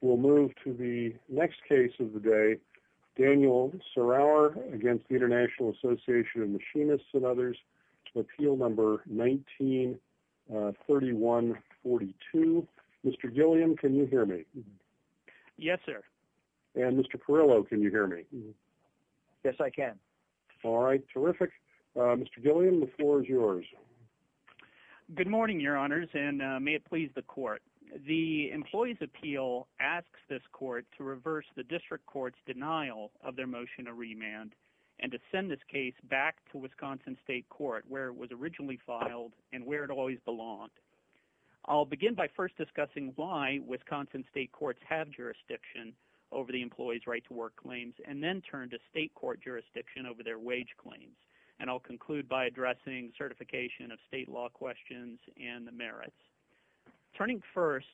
We'll move to the next case of the day, Daniel Sarauer against the International Association of Machinists and others, appeal number 19-3142. Mr. Gilliam, can you hear me? Yes, sir. And Mr. Carillo, can you hear me? Yes, I can. All right, terrific. Mr. Gilliam, the floor is yours. Good morning, Your Honors, and may it please the court. The Employees' Appeal asks this court to reverse the District Court's denial of their motion to remand and to send this case back to Wisconsin State Court where it was originally filed and where it always belonged. I'll begin by first discussing why Wisconsin State Courts have jurisdiction over the employees' right to work claims and then turn to State Court jurisdiction over their wage claims. And I'll conclude by addressing certification of state law questions and the merits. Turning first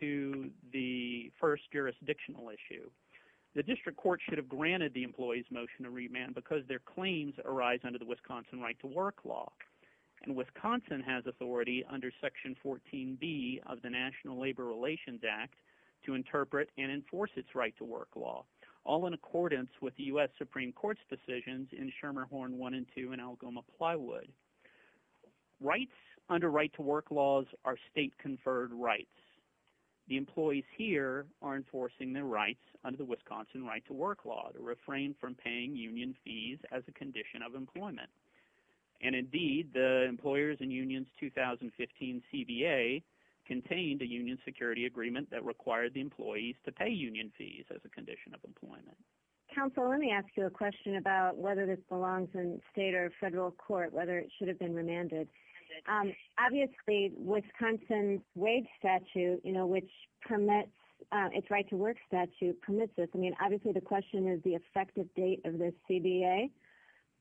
to the first jurisdictional issue, the District Court should have granted the employees' motion to remand because their claims arise under the Wisconsin Right to Work Law. And Wisconsin has authority under Section 14B of the National Labor Relations Act to interpret and enforce its right to work law, all in accordance with the U.S. Supreme Court's in Shermerhorn 1 and 2 in Algoma Plywood. Rights under right to work laws are state-conferred rights. The employees here are enforcing their rights under the Wisconsin Right to Work Law to refrain from paying union fees as a condition of employment. And indeed, the Employers and Unions 2015 CBA contained a union security agreement that required the employees to pay union fees as a condition of employment. Counsel, let me ask you a question about whether this belongs in state or federal court, whether it should have been remanded. Obviously, Wisconsin's wage statute, you know, which permits its right to work statute, permits this. I mean, obviously, the question is the effective date of this CBA.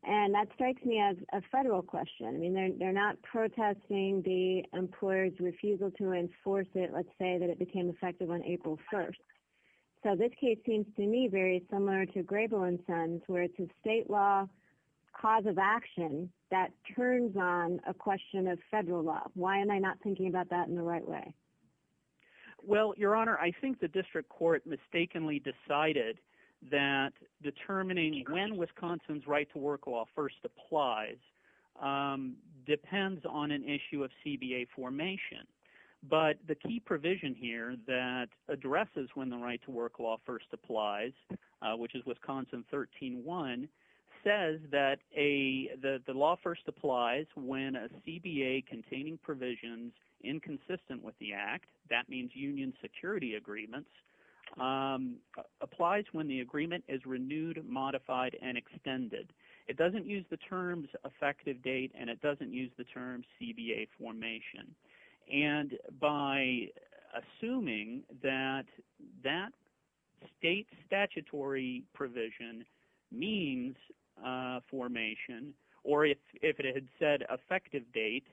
And that strikes me as a federal question. I mean, they're not protesting the employer's refusal to enforce it. Let's say that it became effective on April 1st. So this case seems to me very similar to Grable and Sons, where it's a state law cause of action that turns on a question of federal law. Why am I not thinking about that in the right way? Well, Your Honor, I think the district court mistakenly decided that determining when Wisconsin's right to work law first applies depends on an issue of CBA formation. But the key provision here that addresses when the right to work law first applies, which is Wisconsin 13-1, says that the law first applies when a CBA containing provisions inconsistent with the act, that means union security agreements, applies when the agreement is renewed, modified, and extended. It doesn't use the terms effective date, and it doesn't use the terms CBA formation. And by assuming that that state statutory provision means formation, or if it had said effective date,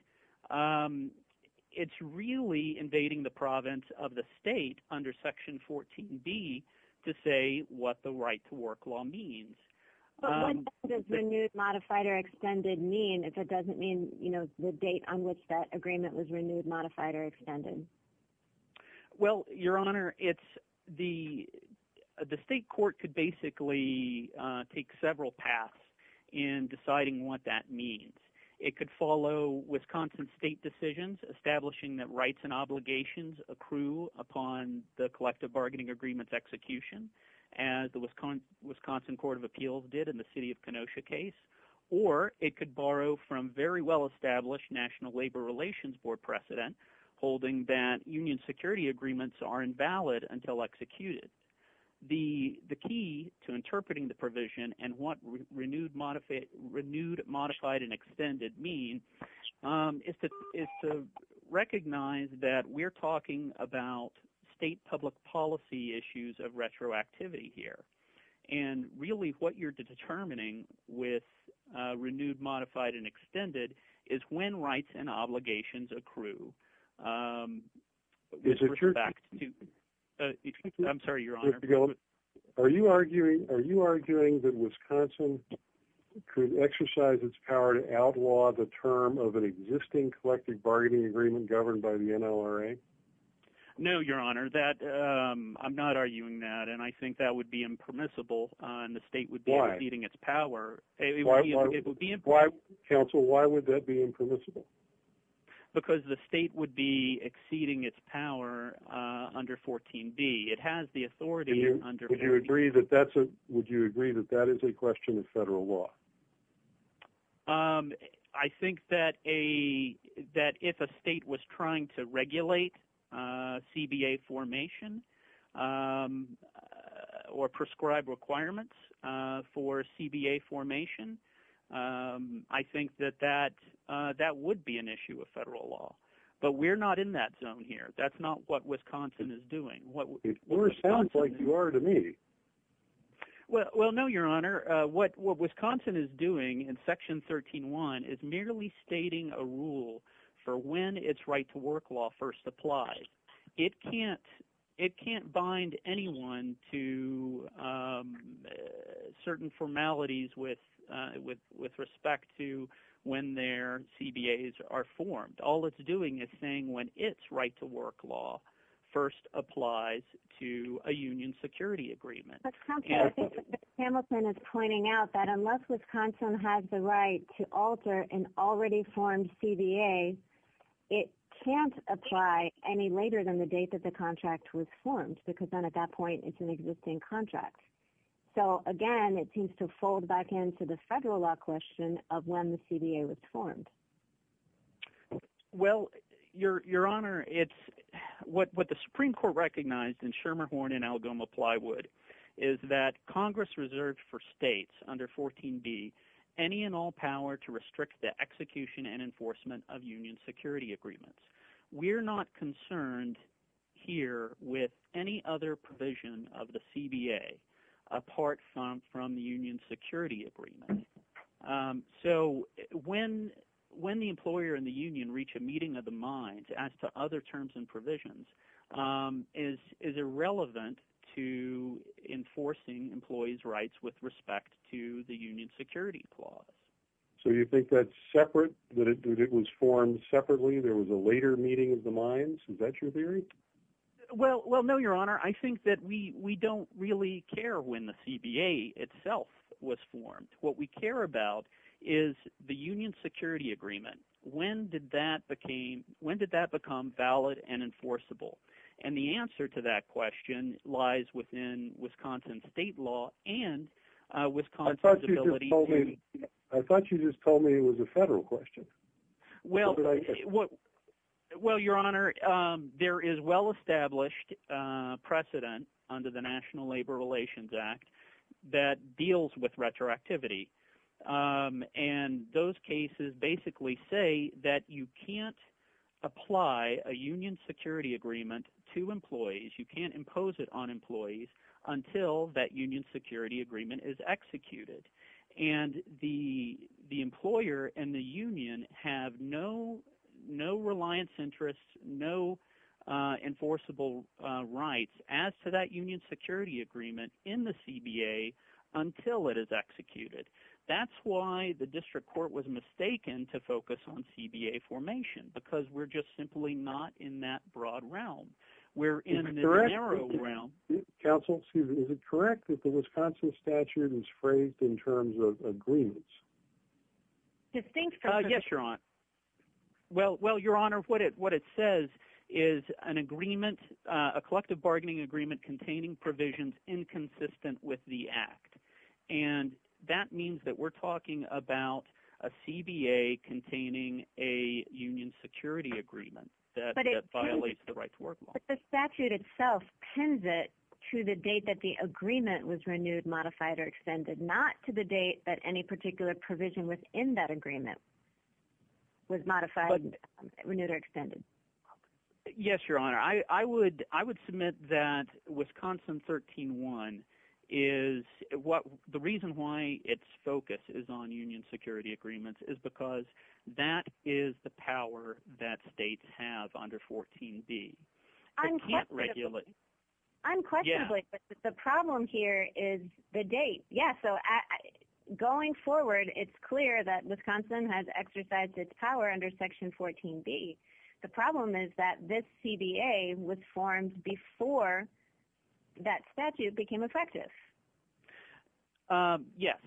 it's really invading the province of the state under Section 14b to say what the right to work law means. But what does renewed, modified, or extended mean if it doesn't mean the date on which that agreement was renewed, modified, or extended? Well, Your Honor, the state court could basically take several paths in deciding what that means. It could follow Wisconsin state decisions establishing that rights and obligations accrue upon the collective bargaining agreements execution, as the Wisconsin Court of from very well-established National Labor Relations Board precedent, holding that union security agreements are invalid until executed. The key to interpreting the provision and what renewed, modified, and extended mean is to recognize that we're talking about state public policy issues of retroactivity here. And really what you're determining with renewed, modified, and extended is when rights and obligations accrue. Are you arguing that Wisconsin could exercise its power to outlaw the term of an existing collective bargaining agreement governed by the NLRA? No, Your Honor. I'm not arguing that, and I think that would be impermissible, and the state would be exceeding its power. Why? It would be impermissible. Counsel, why would that be impermissible? Because the state would be exceeding its power under 14B. It has the authority under 14B. Would you agree that that is a question of federal law? I think that if a state was trying to regulate CBA formation or prescribe requirements for CBA formation, I think that that would be an issue of federal law. But we're not in that zone here. That's not what Wisconsin is doing. It more sounds like you are to me. Well, no, Your Honor. What Wisconsin is doing in Section 13-1 is merely stating a rule for when its right-to-work law first applies. It can't bind anyone to certain formalities with respect to when their CBAs are formed. All it's doing is saying when its right-to-work law first applies to a union security agreement. But counsel, I think that Mr. Hamilton is pointing out that unless Wisconsin has the right-to-work law, it can't apply any later than the date that the contract was formed, because then at that point, it's an existing contract. So again, it seems to fold back into the federal law question of when the CBA was formed. Well, Your Honor, what the Supreme Court recognized in Shermerhorn and Algoma Plywood is that Congress reserved for states under 14B any and all power to restrict the execution and enforcement of union security agreements. We're not concerned here with any other provision of the CBA apart from the union security agreement. So when the employer and the union reach a meeting of the minds as to other terms and provisions, it is irrelevant to enforcing employees' rights with respect to the union security clause. So you think that's separate, that it was formed separately, there was a later meeting of the minds? Is that your theory? Well, no, Your Honor. I think that we don't really care when the CBA itself was formed. What we care about is the union security agreement. When did that become valid and enforceable? And the answer to that question lies within Wisconsin state law and Wisconsin's ability I thought you just told me it was a federal question. Well, Your Honor, there is well-established precedent under the National Labor Relations Act that deals with retroactivity. And those cases basically say that you can't apply a union security agreement to employees, you can't impose it on employees until that union security agreement is executed. And the employer and the union have no reliance interests, no enforceable rights as to that union security agreement in the CBA until it is executed. That's why the district court was mistaken to focus on CBA formation because we're just simply not in that broad realm. Is it correct that the Wisconsin statute is frayed in terms of agreements? Well, Your Honor, what it says is a collective bargaining agreement containing provisions inconsistent with the act. And that means that we're talking about a CBA containing a union security agreement that violates the right to work law. But the statute itself pins it to the date that the agreement was renewed, modified, or extended, not to the date that any particular provision within that agreement was modified, renewed, or extended. Yes, Your Honor. I would submit that Wisconsin 13-1 is what the reason why its focus is on union security agreements is that is the power that states have under 14b. Unquestionably, but the problem here is the date. Yeah, so going forward, it's clear that Wisconsin has exercised its power under Section 14b. The problem is that this CBA was formed before that statute became effective. Yes.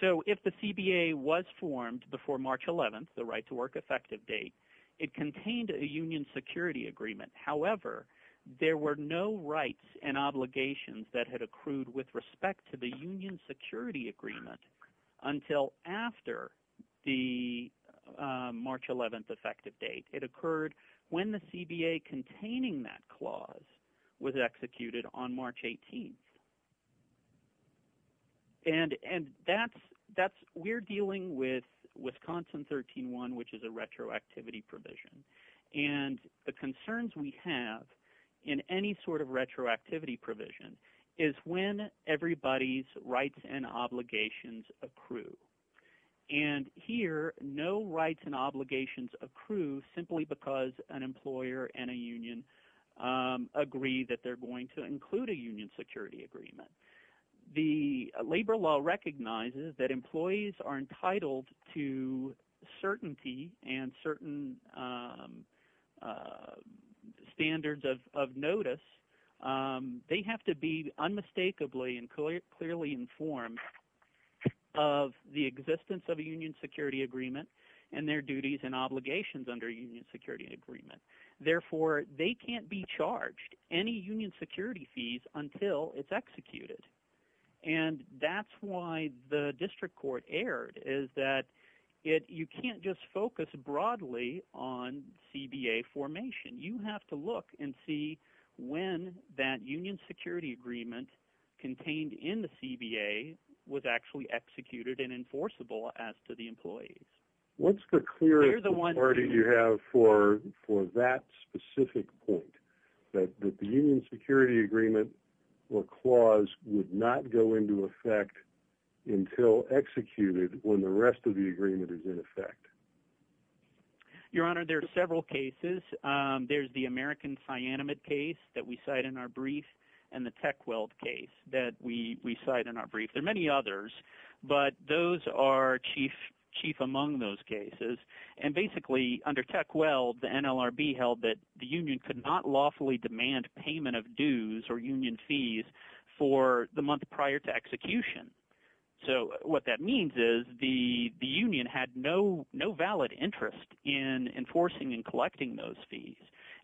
So if the CBA was formed before March 11th, the right to work effective date, it contained a union security agreement. However, there were no rights and obligations that had accrued with respect to the union security agreement until after the March 11th effective date. It occurred when the CBA containing that clause was executed on March 18th. And we're dealing with Wisconsin 13-1, which is a retroactivity provision. And the concerns we have in any sort of retroactivity provision is when everybody's obligations accrue. And here, no rights and obligations accrue simply because an employer and a union agree that they're going to include a union security agreement. The labor law recognizes that employees are entitled to certainty and certain standards of notice. They have to be unmistakably and clearly informed of the existence of a union security agreement and their duties and obligations under a union security agreement. Therefore, they can't be charged any union security fees until it's executed. And that's why the district court erred is that you can't just focus broadly on CBA formation. You have to look and see when that union security agreement contained in the CBA was actually executed and enforceable as to the employees. What's the clarity you have for that specific point, that the union security agreement or clause would not go into effect until executed when the rest of the agreement is in place? The union could not lawfully demand payment of dues or union fees for the month prior to execution. So what that means is the union had no valid interest in enforcing and collecting those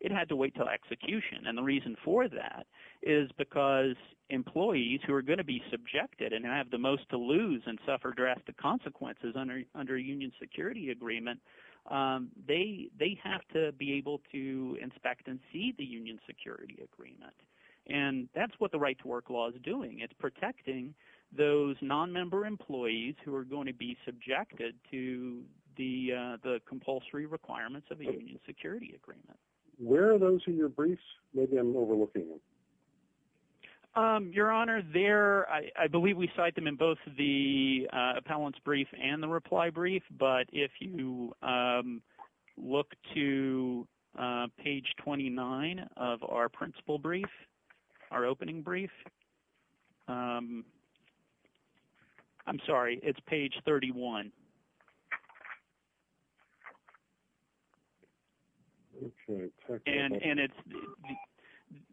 It had to wait till execution. And the reason for that is because employees who are going to be subjected and have the most to lose and suffer drastic consequences under a union security agreement, they have to be able to inspect and see the union security agreement. And that's what the right to work law is doing. It's protecting those non-member employees who are going to be subjected to the compulsory requirements of the union security agreement. Where are those in your briefs? Maybe I'm overlooking them. Your honor, there, I believe we cite them in both the appellant's brief and the reply brief. But if you look to page 29 of our principal brief, our opening brief, I'm sorry, it's page 31. And it's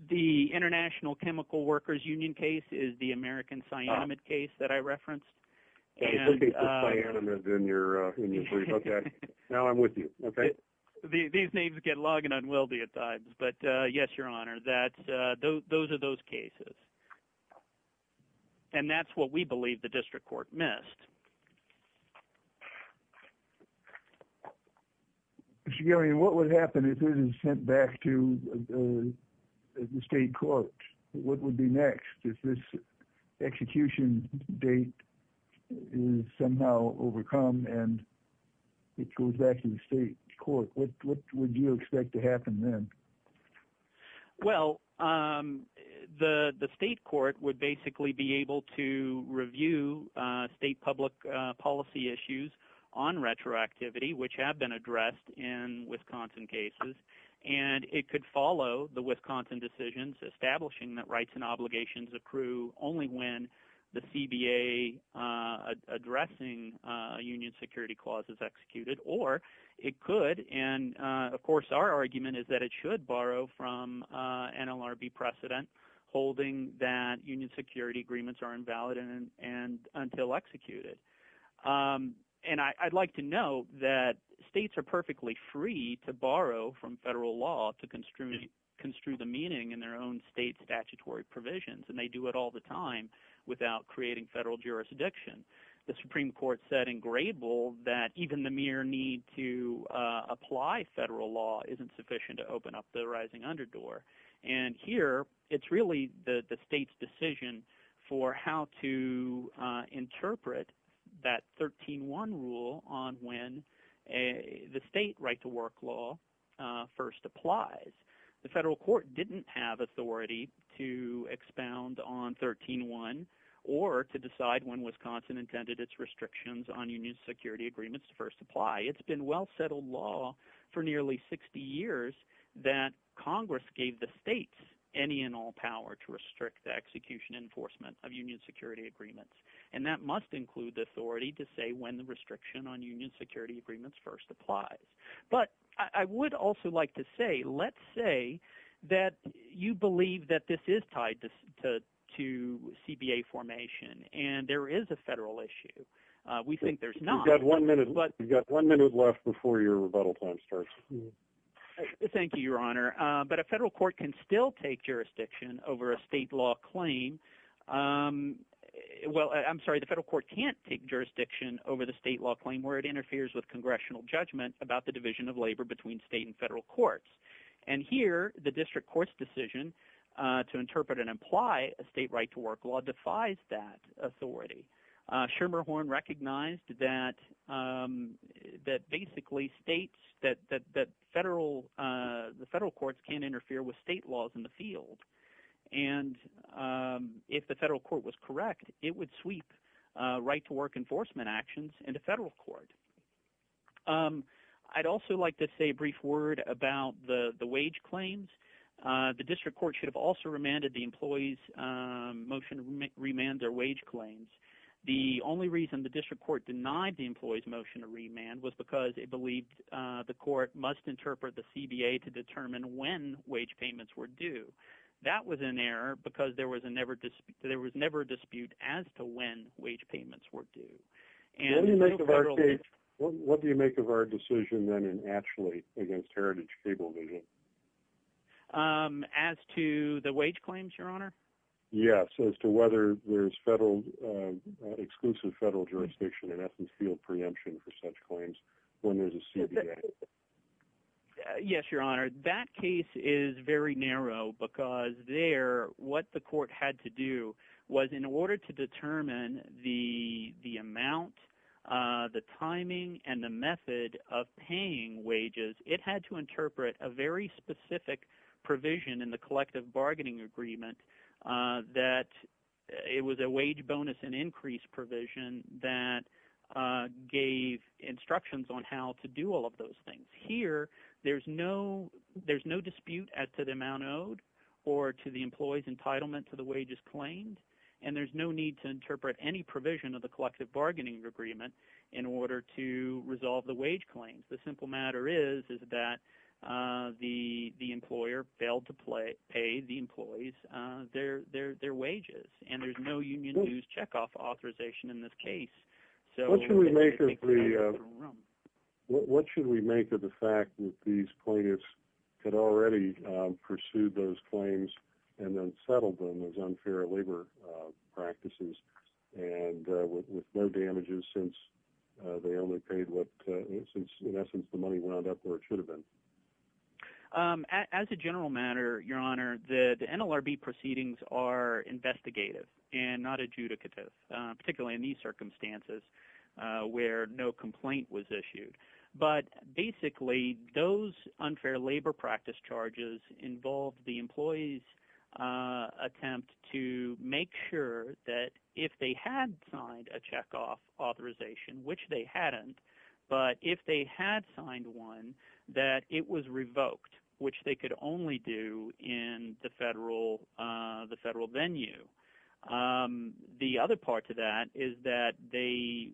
the International Chemical Workers Union case is the American cyanamide case that I referenced. And now I'm with you. These names get long and unwieldy at times. But yes, your honor, those are those cases. And that's what we believe the district court missed. Mr. Gary, what would happen if this is sent back to the state court? What would be next if this execution date is somehow overcome and it goes back to the state court? What would you expect to happen then? Well, the state court would basically be able to review state public policy issues on retroactivity, which have been addressed in Wisconsin cases. And it could follow the Wisconsin decisions establishing that rights and obligations accrue only when the CBA addressing union security clauses executed, or it could. And of course, our argument is that it should borrow from NLRB precedent, holding that union security agreements are invalid and until executed. And I'd like to know that states are perfectly free to borrow from federal law to construe the meaning in their own state statutory provisions. And they do it all the time without creating federal jurisdiction. The Supreme Court said in Grebel that even the mere need to apply federal law isn't sufficient to open up the rising underdoor. And here, it's really the state's decision for how to interpret that 13 one rule on when a the state right to work law first applies. The federal court didn't have authority to expound on 13 one, or to decide when Wisconsin intended its restrictions on union security agreements to first apply. It's been well settled law for nearly 60 years, that Congress gave the state any and all power to restrict the execution enforcement of union security agreements. And that must include the authority to say when the restriction on union security agreements first applies. But I would also like to say, let's say that you believe that this is tied to to CBA formation, and there is a federal issue. We think there's not one minute, but you've got one minute left before your rebuttal time starts. Thank you, Your Honor, but a federal court can still take jurisdiction over a state law claim. Well, I'm sorry, the federal court can't take jurisdiction over the state law claim where it interferes with congressional judgment about the division of labor between state and federal courts. And here, the district court's decision to interpret and apply a state right to work law defies that authority. Schermerhorn recognized that basically states that federal – the federal courts can't interfere with state laws in the field. And if the federal court was correct, it would sweep right to work enforcement actions into federal court. I'd also like to say a brief word about the wage claims. The district court should have also remanded the employees' motion to remand their wage claims. The only reason the district court denied the employees' motion to remand was because it believed the court must interpret the CBA to determine when wage payments were due. That was an error because there was never a dispute as to when wage payments were due. What do you make of our decision then and actually against Heritage Cable vision? As to the wage claims, Your Honor? Yes, as to whether there's exclusive federal jurisdiction in essence field preemption for such claims when there's a CBA? Yes, Your Honor. That case is very narrow because there, what the court had to do was in order to determine the amount, the timing, and the method of paying wages, it had to interpret a very specific provision in the collective bargaining agreement that it was a wage bonus and increase provision that gave instructions on how to do all of those things. Here, there's no dispute as to the amount owed or to the employee's entitlement to the wages claimed and there's no need to interpret any provision of the collective bargaining agreement in order to resolve the wage claims. The simple matter is that the employer failed to pay the employees their wages and there's no union dues checkoff authorization in this case. What should we make of the fact that these plaintiffs had already pursued those claims and then settled them as unfair labor practices and with no damages since they only paid what, since in essence the money wound up where it should have been? As a general matter, Your Honor, the NLRB proceedings are investigative and not adjudicative, particularly in these circumstances where no complaint was issued. But basically, those unfair labor practice charges involved the employee's attempt to make sure that if they had signed a checkoff authorization, which they hadn't, but if they had signed one, that it was revoked, which they could only do in the federal venue. The other part to that is that they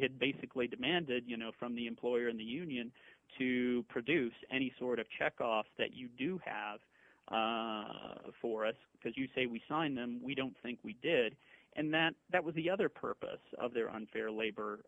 had basically demanded from the employer and the union to produce any sort of checkoff that you do have for us because you say we signed them, we don't think we did. That was the other purpose of their unfair labor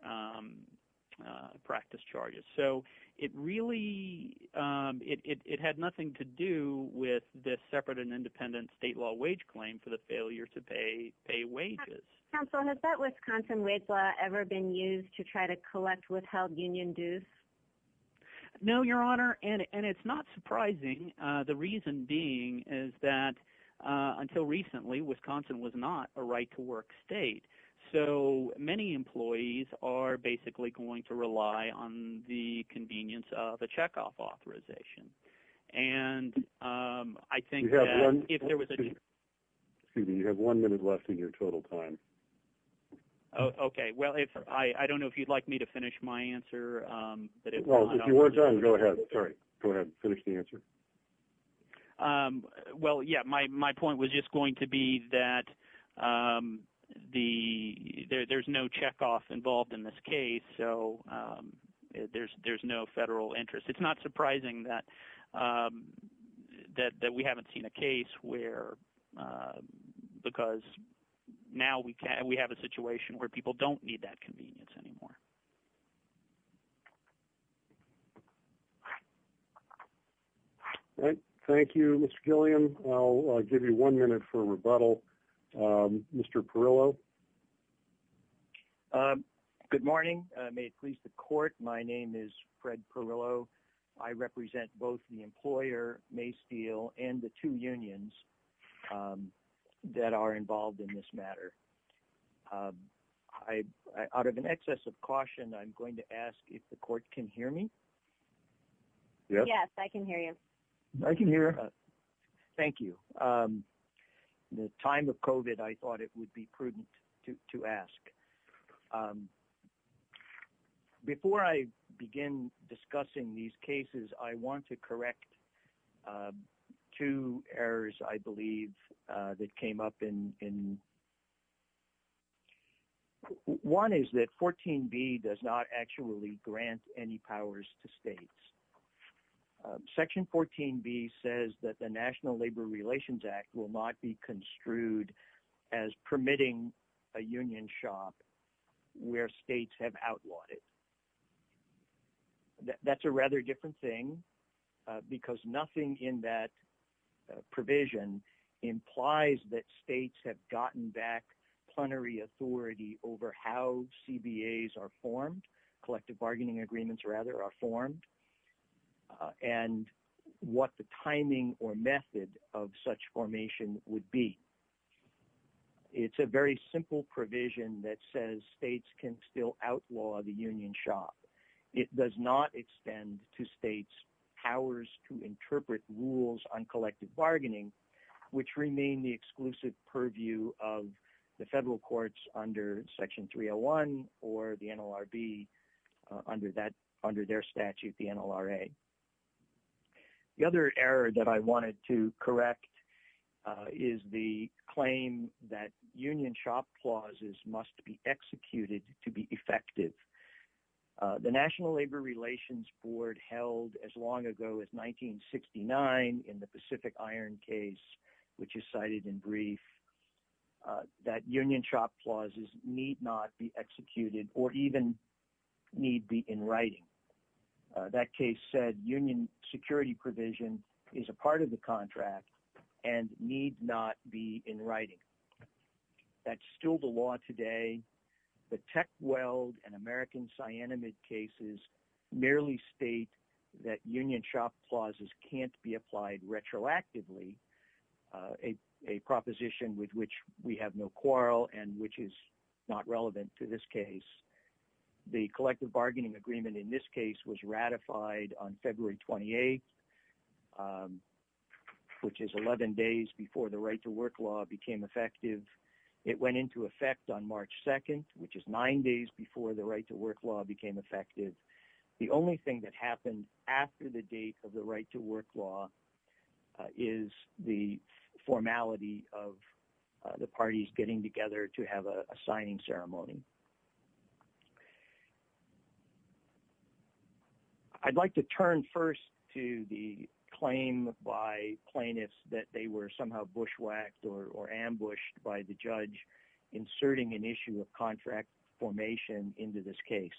practice charges. So it really, it had nothing to do with this separate and independent state law wage claim for the failure to pay wages. Counsel, has that Wisconsin wage law ever been used to try to collect withheld union dues? No, Your Honor, and it's not surprising, the reason being is that until recently, Wisconsin was not a right to work state. So many employees are basically going to rely on the convenience of the checkoff authorization. And I think that if there was a, excuse me, you have one minute left in your total time. Okay, well, if I don't know if you'd like me to finish my answer, well, if you're done, go ahead. Sorry, go ahead and finish the answer. Um, well, yeah, my point was just going to be that, um, the, there's no checkoff involved in this case. So, um, there's, there's no federal interest. It's not surprising that, um, that we haven't seen a case where, uh, because now we can, we have a situation where people don't need that convenience anymore. All right. Thank you, Mr. Gillian. I'll give you one minute for rebuttal. Mr. Perillo. Um, good morning. May it please the court. My name is Fred Perillo. I represent both the employer Maysteel and the two unions, um, that are involved in this matter. Um, I, out of an excess of caution, I'm going to ask if the court can hear me. Yes, I can hear you. I can hear. Thank you. Um, the time of COVID, I thought it would be prudent to ask, um, before I begin discussing these cases, I want to correct, um, two errors, I believe, uh, that came up in, in one is that 14 B does not actually grant any powers to states. Um, section 14 B says that the national labor relations act will not be construed as permitting a union shop where states have outlawed it. That's a rather different thing, uh, because nothing in that, uh, provision implies that states have gotten back plenary authority over how CBAs are formed, collective bargaining agreements rather are formed, uh, and what the timing or method of such formation would be. It's a very simple provision that says states can still outlaw the union shop. It does not extend to states powers to interpret rules on collective bargaining, which remain the exclusive purview of the federal courts under section 301 or the NLRB, uh, under that, under their statute, the NLRA. The other error that I wanted to correct, uh, is the claim that union shop clauses must be executed to be effective. Uh, the national labor relations board held as long ago as 1969 in the Pacific iron case, which is cited in brief, uh, that union shop clauses need not be executed or even need be in writing. Uh, that case said union security provision is a part of the contract and need not be in writing. That's still the law today. The tech weld and American cyanamide cases merely state that union shop clauses can't be applied retroactively, uh, a, a proposition with which we have no quarrel and which is not relevant to this case. The collective bargaining agreement in this case was ratified on February 28th, um, which is 11 days before the right to work law became effective. It went into effect on March 2nd, which is nine days before the right to work law became effective. The only thing that happened after the date of the right to work law is the formality of the parties getting together to have a signing ceremony. I'd like to turn first to the claim by plaintiffs that they were somehow bushwhacked or, or ambushed by the judge inserting an issue of contract formation into this case.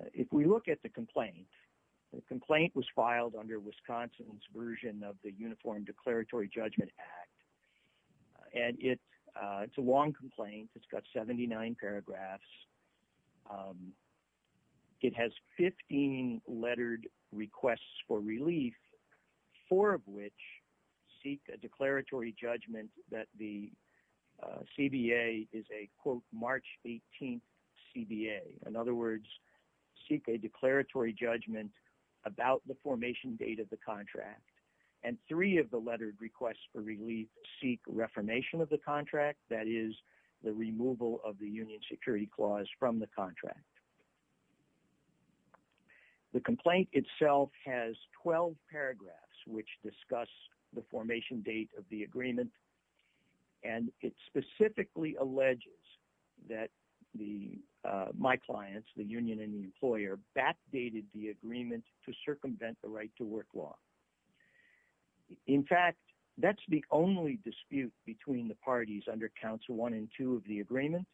Uh, if we look at the complaint, the complaint was filed under Wisconsin's version of the uniform declaratory judgment act. Uh, and it, uh, it's a long complaint. It's got 79 paragraphs. Um, it has 15 lettered requests for relief, four of which seek a declaratory judgment that the, uh, CBA is a quote March 18th CBA. In other words, seek a declaratory judgment about the formation date of the contract. And three of the lettered requests for relief seek reformation of the contract. The complaint itself has 12 paragraphs, which discuss the formation date of the agreement. And it specifically alleges that the, uh, my clients, the union and the employer backdated the agreement to circumvent the right to work law. In fact, that's the only dispute between the parties under council one and two of the agreement.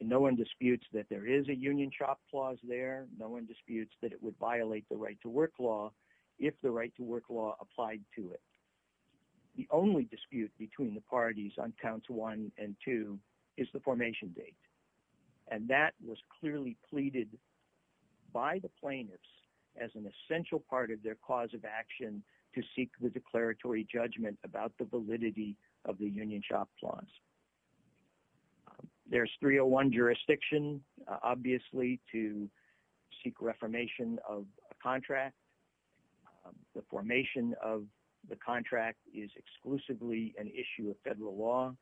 No one disputes that there is a union shop clause there. No one disputes that it would violate the right to work law. If the right to work law applied to it, the only dispute between the parties on council one and two is the formation date. And that was clearly pleaded by the plaintiffs as an essential part of their cause of union shop clause. There's 301 jurisdiction, obviously to seek reformation of a contract. The formation of the contract is exclusively an issue of federal law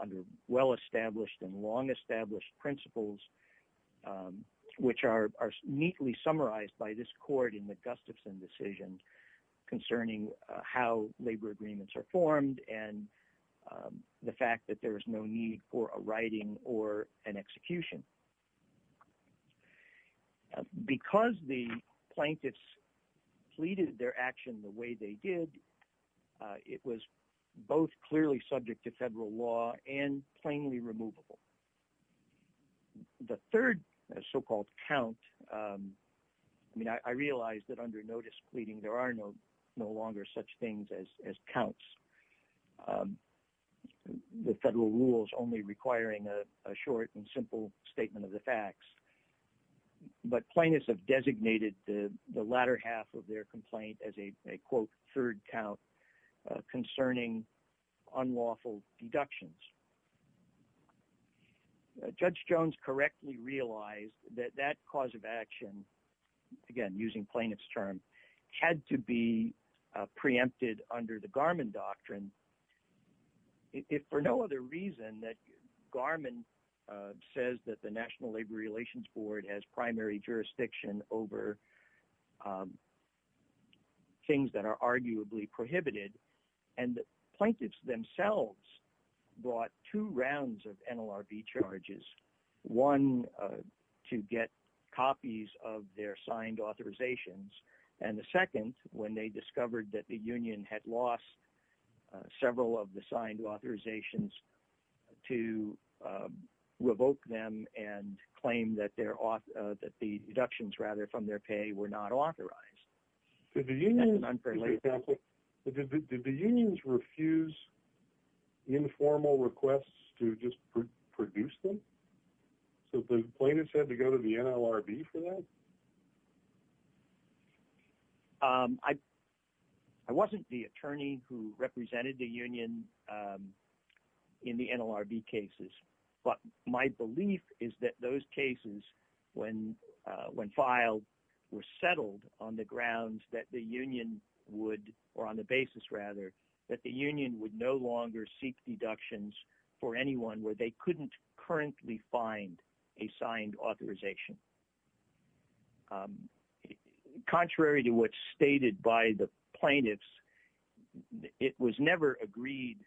under well-established and long established principles, which are neatly summarized by this court in the Gustafson decision concerning how labor agreements are formed and the fact that there is no need for a writing or an execution. Because the plaintiffs pleaded their action the way they did, it was both clearly subject to federal law and plainly removable. The third so-called count, I mean, I realized that under notice pleading there are no longer such things as counts. The federal rule is only requiring a short and simple statement of the facts, but plaintiffs have designated the latter half of their complaint as a, quote, third count concerning unlawful deductions. Judge Jones correctly realized that that cause of action, again, using plaintiff's term, had to be preempted under the Garmon doctrine. If for no other reason that Garmon says that the National Labor Relations Board has primary jurisdiction over things that are arguably prohibited, and the plaintiffs themselves brought two rounds of NLRB charges, one to get copies of their signed authorizations, and the second when they discovered that the union had lost several of the signed authorizations to revoke them and claim that the deductions, rather, their pay were not authorized. Did the unions refuse informal requests to just produce them? So the plaintiffs had to go to the NLRB for that? I wasn't the attorney who represented the union in the NLRB cases, but my belief is that those cases when filed were settled on the grounds that the union would, or on the basis, rather, that the union would no longer seek deductions for anyone where they couldn't currently find a signed authorization. Contrary to what's stated by the plaintiffs, it was never agreed,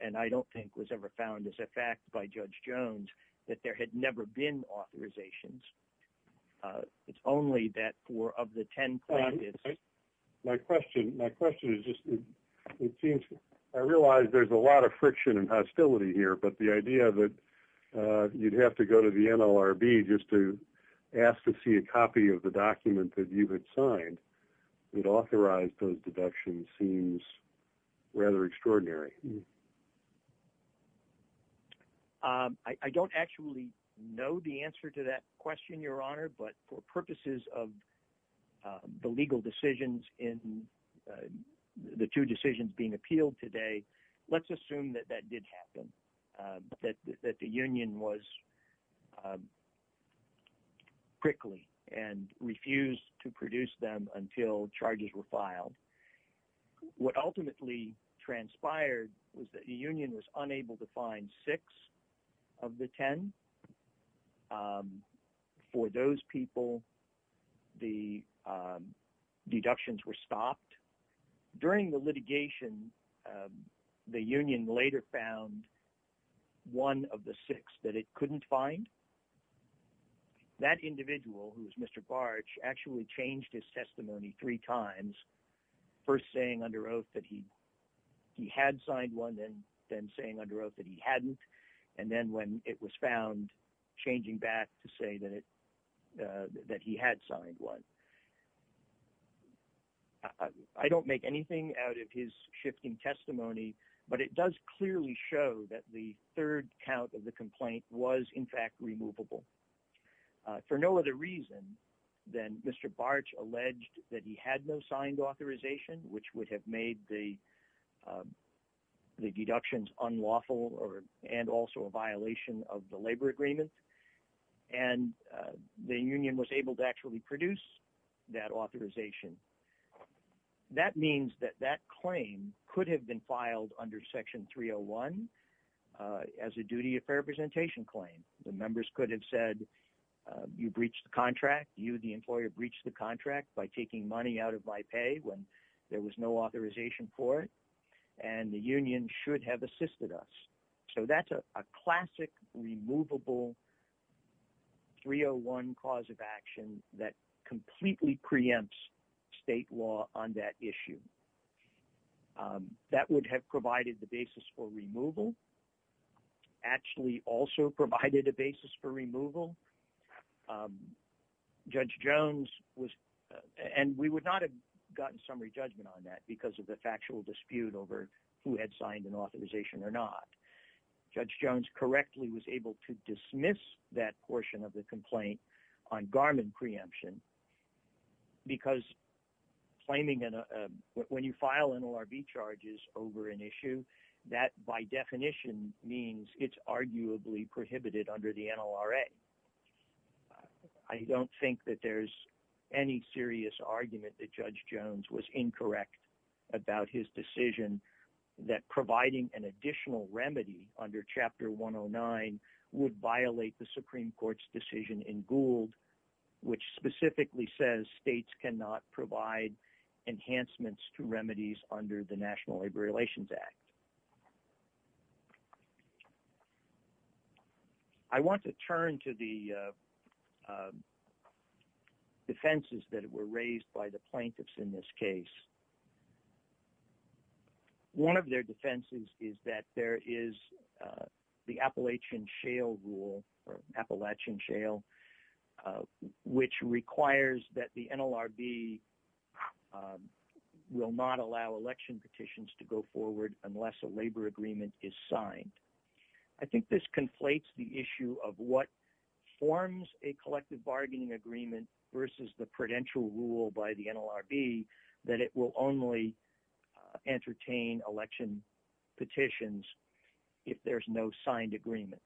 and I don't think was ever found as a fact by Judge Jones, that there had never been authorizations. It's only that for, of the ten plaintiffs... My question, my question is just, it seems, I realize there's a lot of friction and hostility here, but the idea that you'd have to go to the NLRB just to ask to see a copy of the document that you had signed that authorized those deductions seems rather extraordinary. I don't actually know the answer to that question, Your Honor, but for purposes of the legal decisions in the two decisions being appealed today, let's assume that that did happen, that the union was prickly and refused to produce them until charges were filed. What ultimately transpired was that the union was unable to find six of the ten. For those people, the deductions were stopped. During the litigation, the union later found one of the six that it couldn't find. That individual, who was Mr. Bartsch, actually changed his testimony three times, first saying under oath that he had signed one, then saying under oath that he hadn't, and then when it was found, changing back to say that he had signed one. I don't make anything out of his shifting testimony, but it does clearly show that the third count of the complaint was in fact removable. For no other reason than Mr. Bartsch alleged that he had no signed authorization, which would have made the deductions unlawful and also a violation of the labor agreement, and the union was able to actually produce that authorization. That means that that claim could have been filed under section 301 as a duty of fair representation claim. The members could have said, you breached the contract, you the employer breached the contract by taking money out of my pay when there was no authorization for it, and the union should have assisted us. So that's a classic removable 301 cause of action that completely preempts state law on that issue. That would have provided the basis for removal, actually also provided a basis for removal. Judge Jones was, and we would not have gotten summary judgment on that because of the factual dispute over who had signed an authorization or not. Judge Jones correctly was able to dismiss that portion of the complaint on Garmin preemption because claiming, when you file NLRB charges over an issue, that by definition means it's arguably prohibited under the NLRA. I don't think that there's any serious argument that Judge Jones was incorrect about his decision that providing an additional remedy under chapter 109 would violate the Supreme Court's decision in Gould, which specifically says states cannot provide enhancements to remedies under the National Labor Relations Act. I want to turn to the defenses that were raised by the plaintiffs in this case. One of their defenses is that there is the Appalachian shale rule, or Appalachian shale, which requires that the NLRB will not allow election petitions to go forward unless a labor agreement is signed. I think this conflates the issue of what forms a collective bargaining agreement versus the prudential rule by the NLRB that it will only entertain election petitions if there's no signed agreement.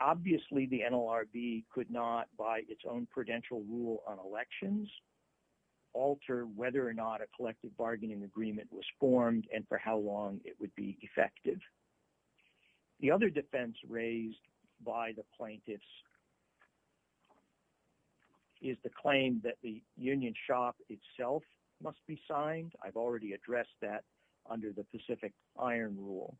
Obviously, the NLRB could not, by its own prudential rule on elections, alter whether or not a collective bargaining agreement was formed and for how long it would be effective. The other defense raised by the plaintiffs is the claim that the union shop itself must be signed. I've already addressed that under the Pacific iron rule.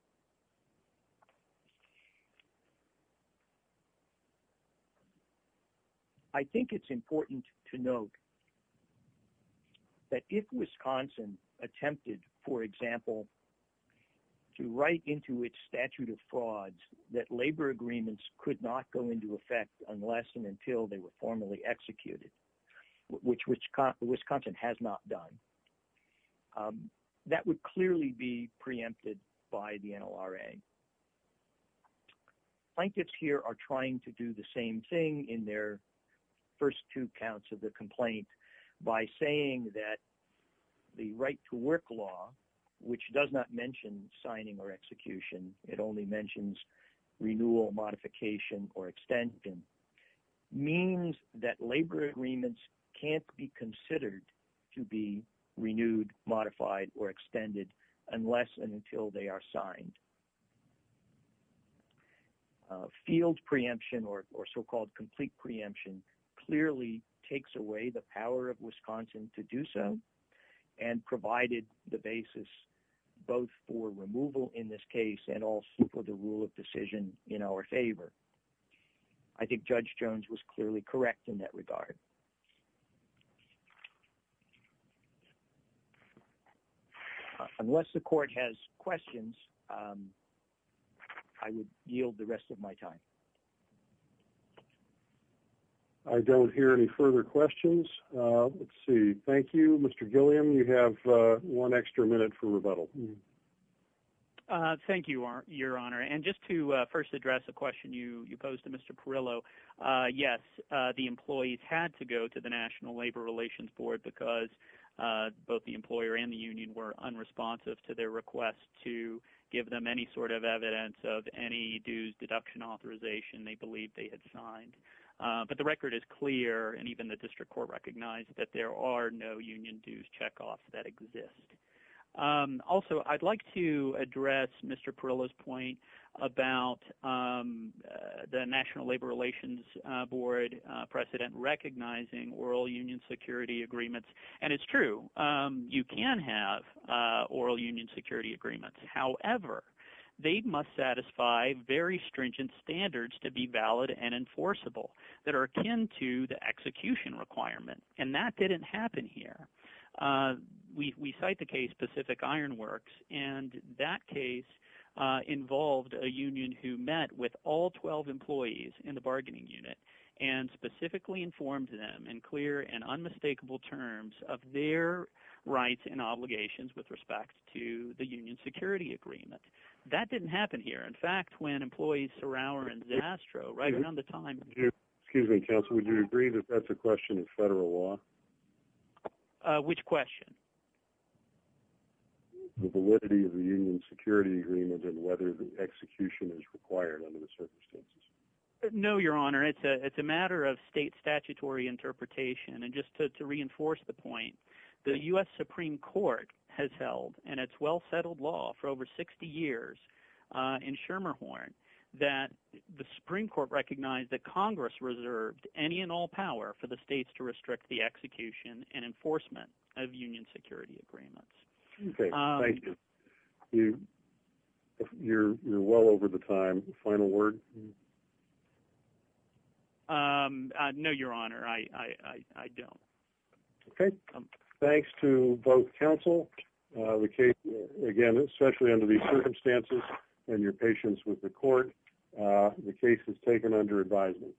I think it's important to note that if Wisconsin attempted, for example, to write into its statute of frauds that labor agreements could not go into effect unless and until they were formally executed, which Wisconsin has not done, that would clearly be preempted by the NLRA. Plaintiffs here are trying to do the same thing in their first two counts of the complaint by saying that the right to work law, which does not mention signing or execution, it only mentions renewal, modification, or extension, means that labor agreements can't be considered to be renewed, modified, or extended unless and until they are signed. Field preemption or so-called complete preemption clearly takes away the power of Wisconsin to do so and provided the basis both for removal in this case and also for the rule of decision in our favor. I think Judge Jones was clearly correct in that regard. Unless the court has questions, I would yield the rest of my time. I don't hear any further questions. Let's see. Thank you, Mr. Gilliam. You have one extra minute for rebuttal. Thank you, Your Honor. Just to first address the question you posed to Mr. Perillo, yes, the employees had to go to the National Labor Relations Board because both the employer and the union were unresponsive to their request to give them any sort of evidence of any dues deduction authorization they believed they had signed. The record is clear, and even the district court recognized that there are no union dues check-offs that exist. Also, I'd like to address Mr. Perillo's point about the National Labor Relations Board precedent recognizing oral union security agreements. And it's true. You can have oral union security agreements. However, they must satisfy very stringent standards to be valid and enforceable that are akin to the execution requirement. And that didn't happen here. We cite the case Pacific Ironworks, and that case involved a union who met with all 12 employees in the bargaining unit and specifically informed them in clear and unmistakable terms of their rights and obligations with respect to the union security agreement. That didn't happen here. In fact, when employees and Zastro, right around the time... Excuse me, counsel, would you agree that that's a question of federal law? Which question? The validity of the union security agreement and whether the execution is required under the circumstances. No, Your Honor, it's a matter of state statutory interpretation. And just to reinforce the point, the U.S. Supreme Court has held in its well-settled law for over 60 years in Schermerhorn that the Supreme Court recognized that Congress reserved any and all power for the states to restrict the execution and enforcement of union security agreements. Okay. Thank you. You're well over the time. Final word? No, Your Honor, I don't. Okay. Thanks to both counsel. Again, especially under these circumstances and your patience with the court, the case is taken under advisement.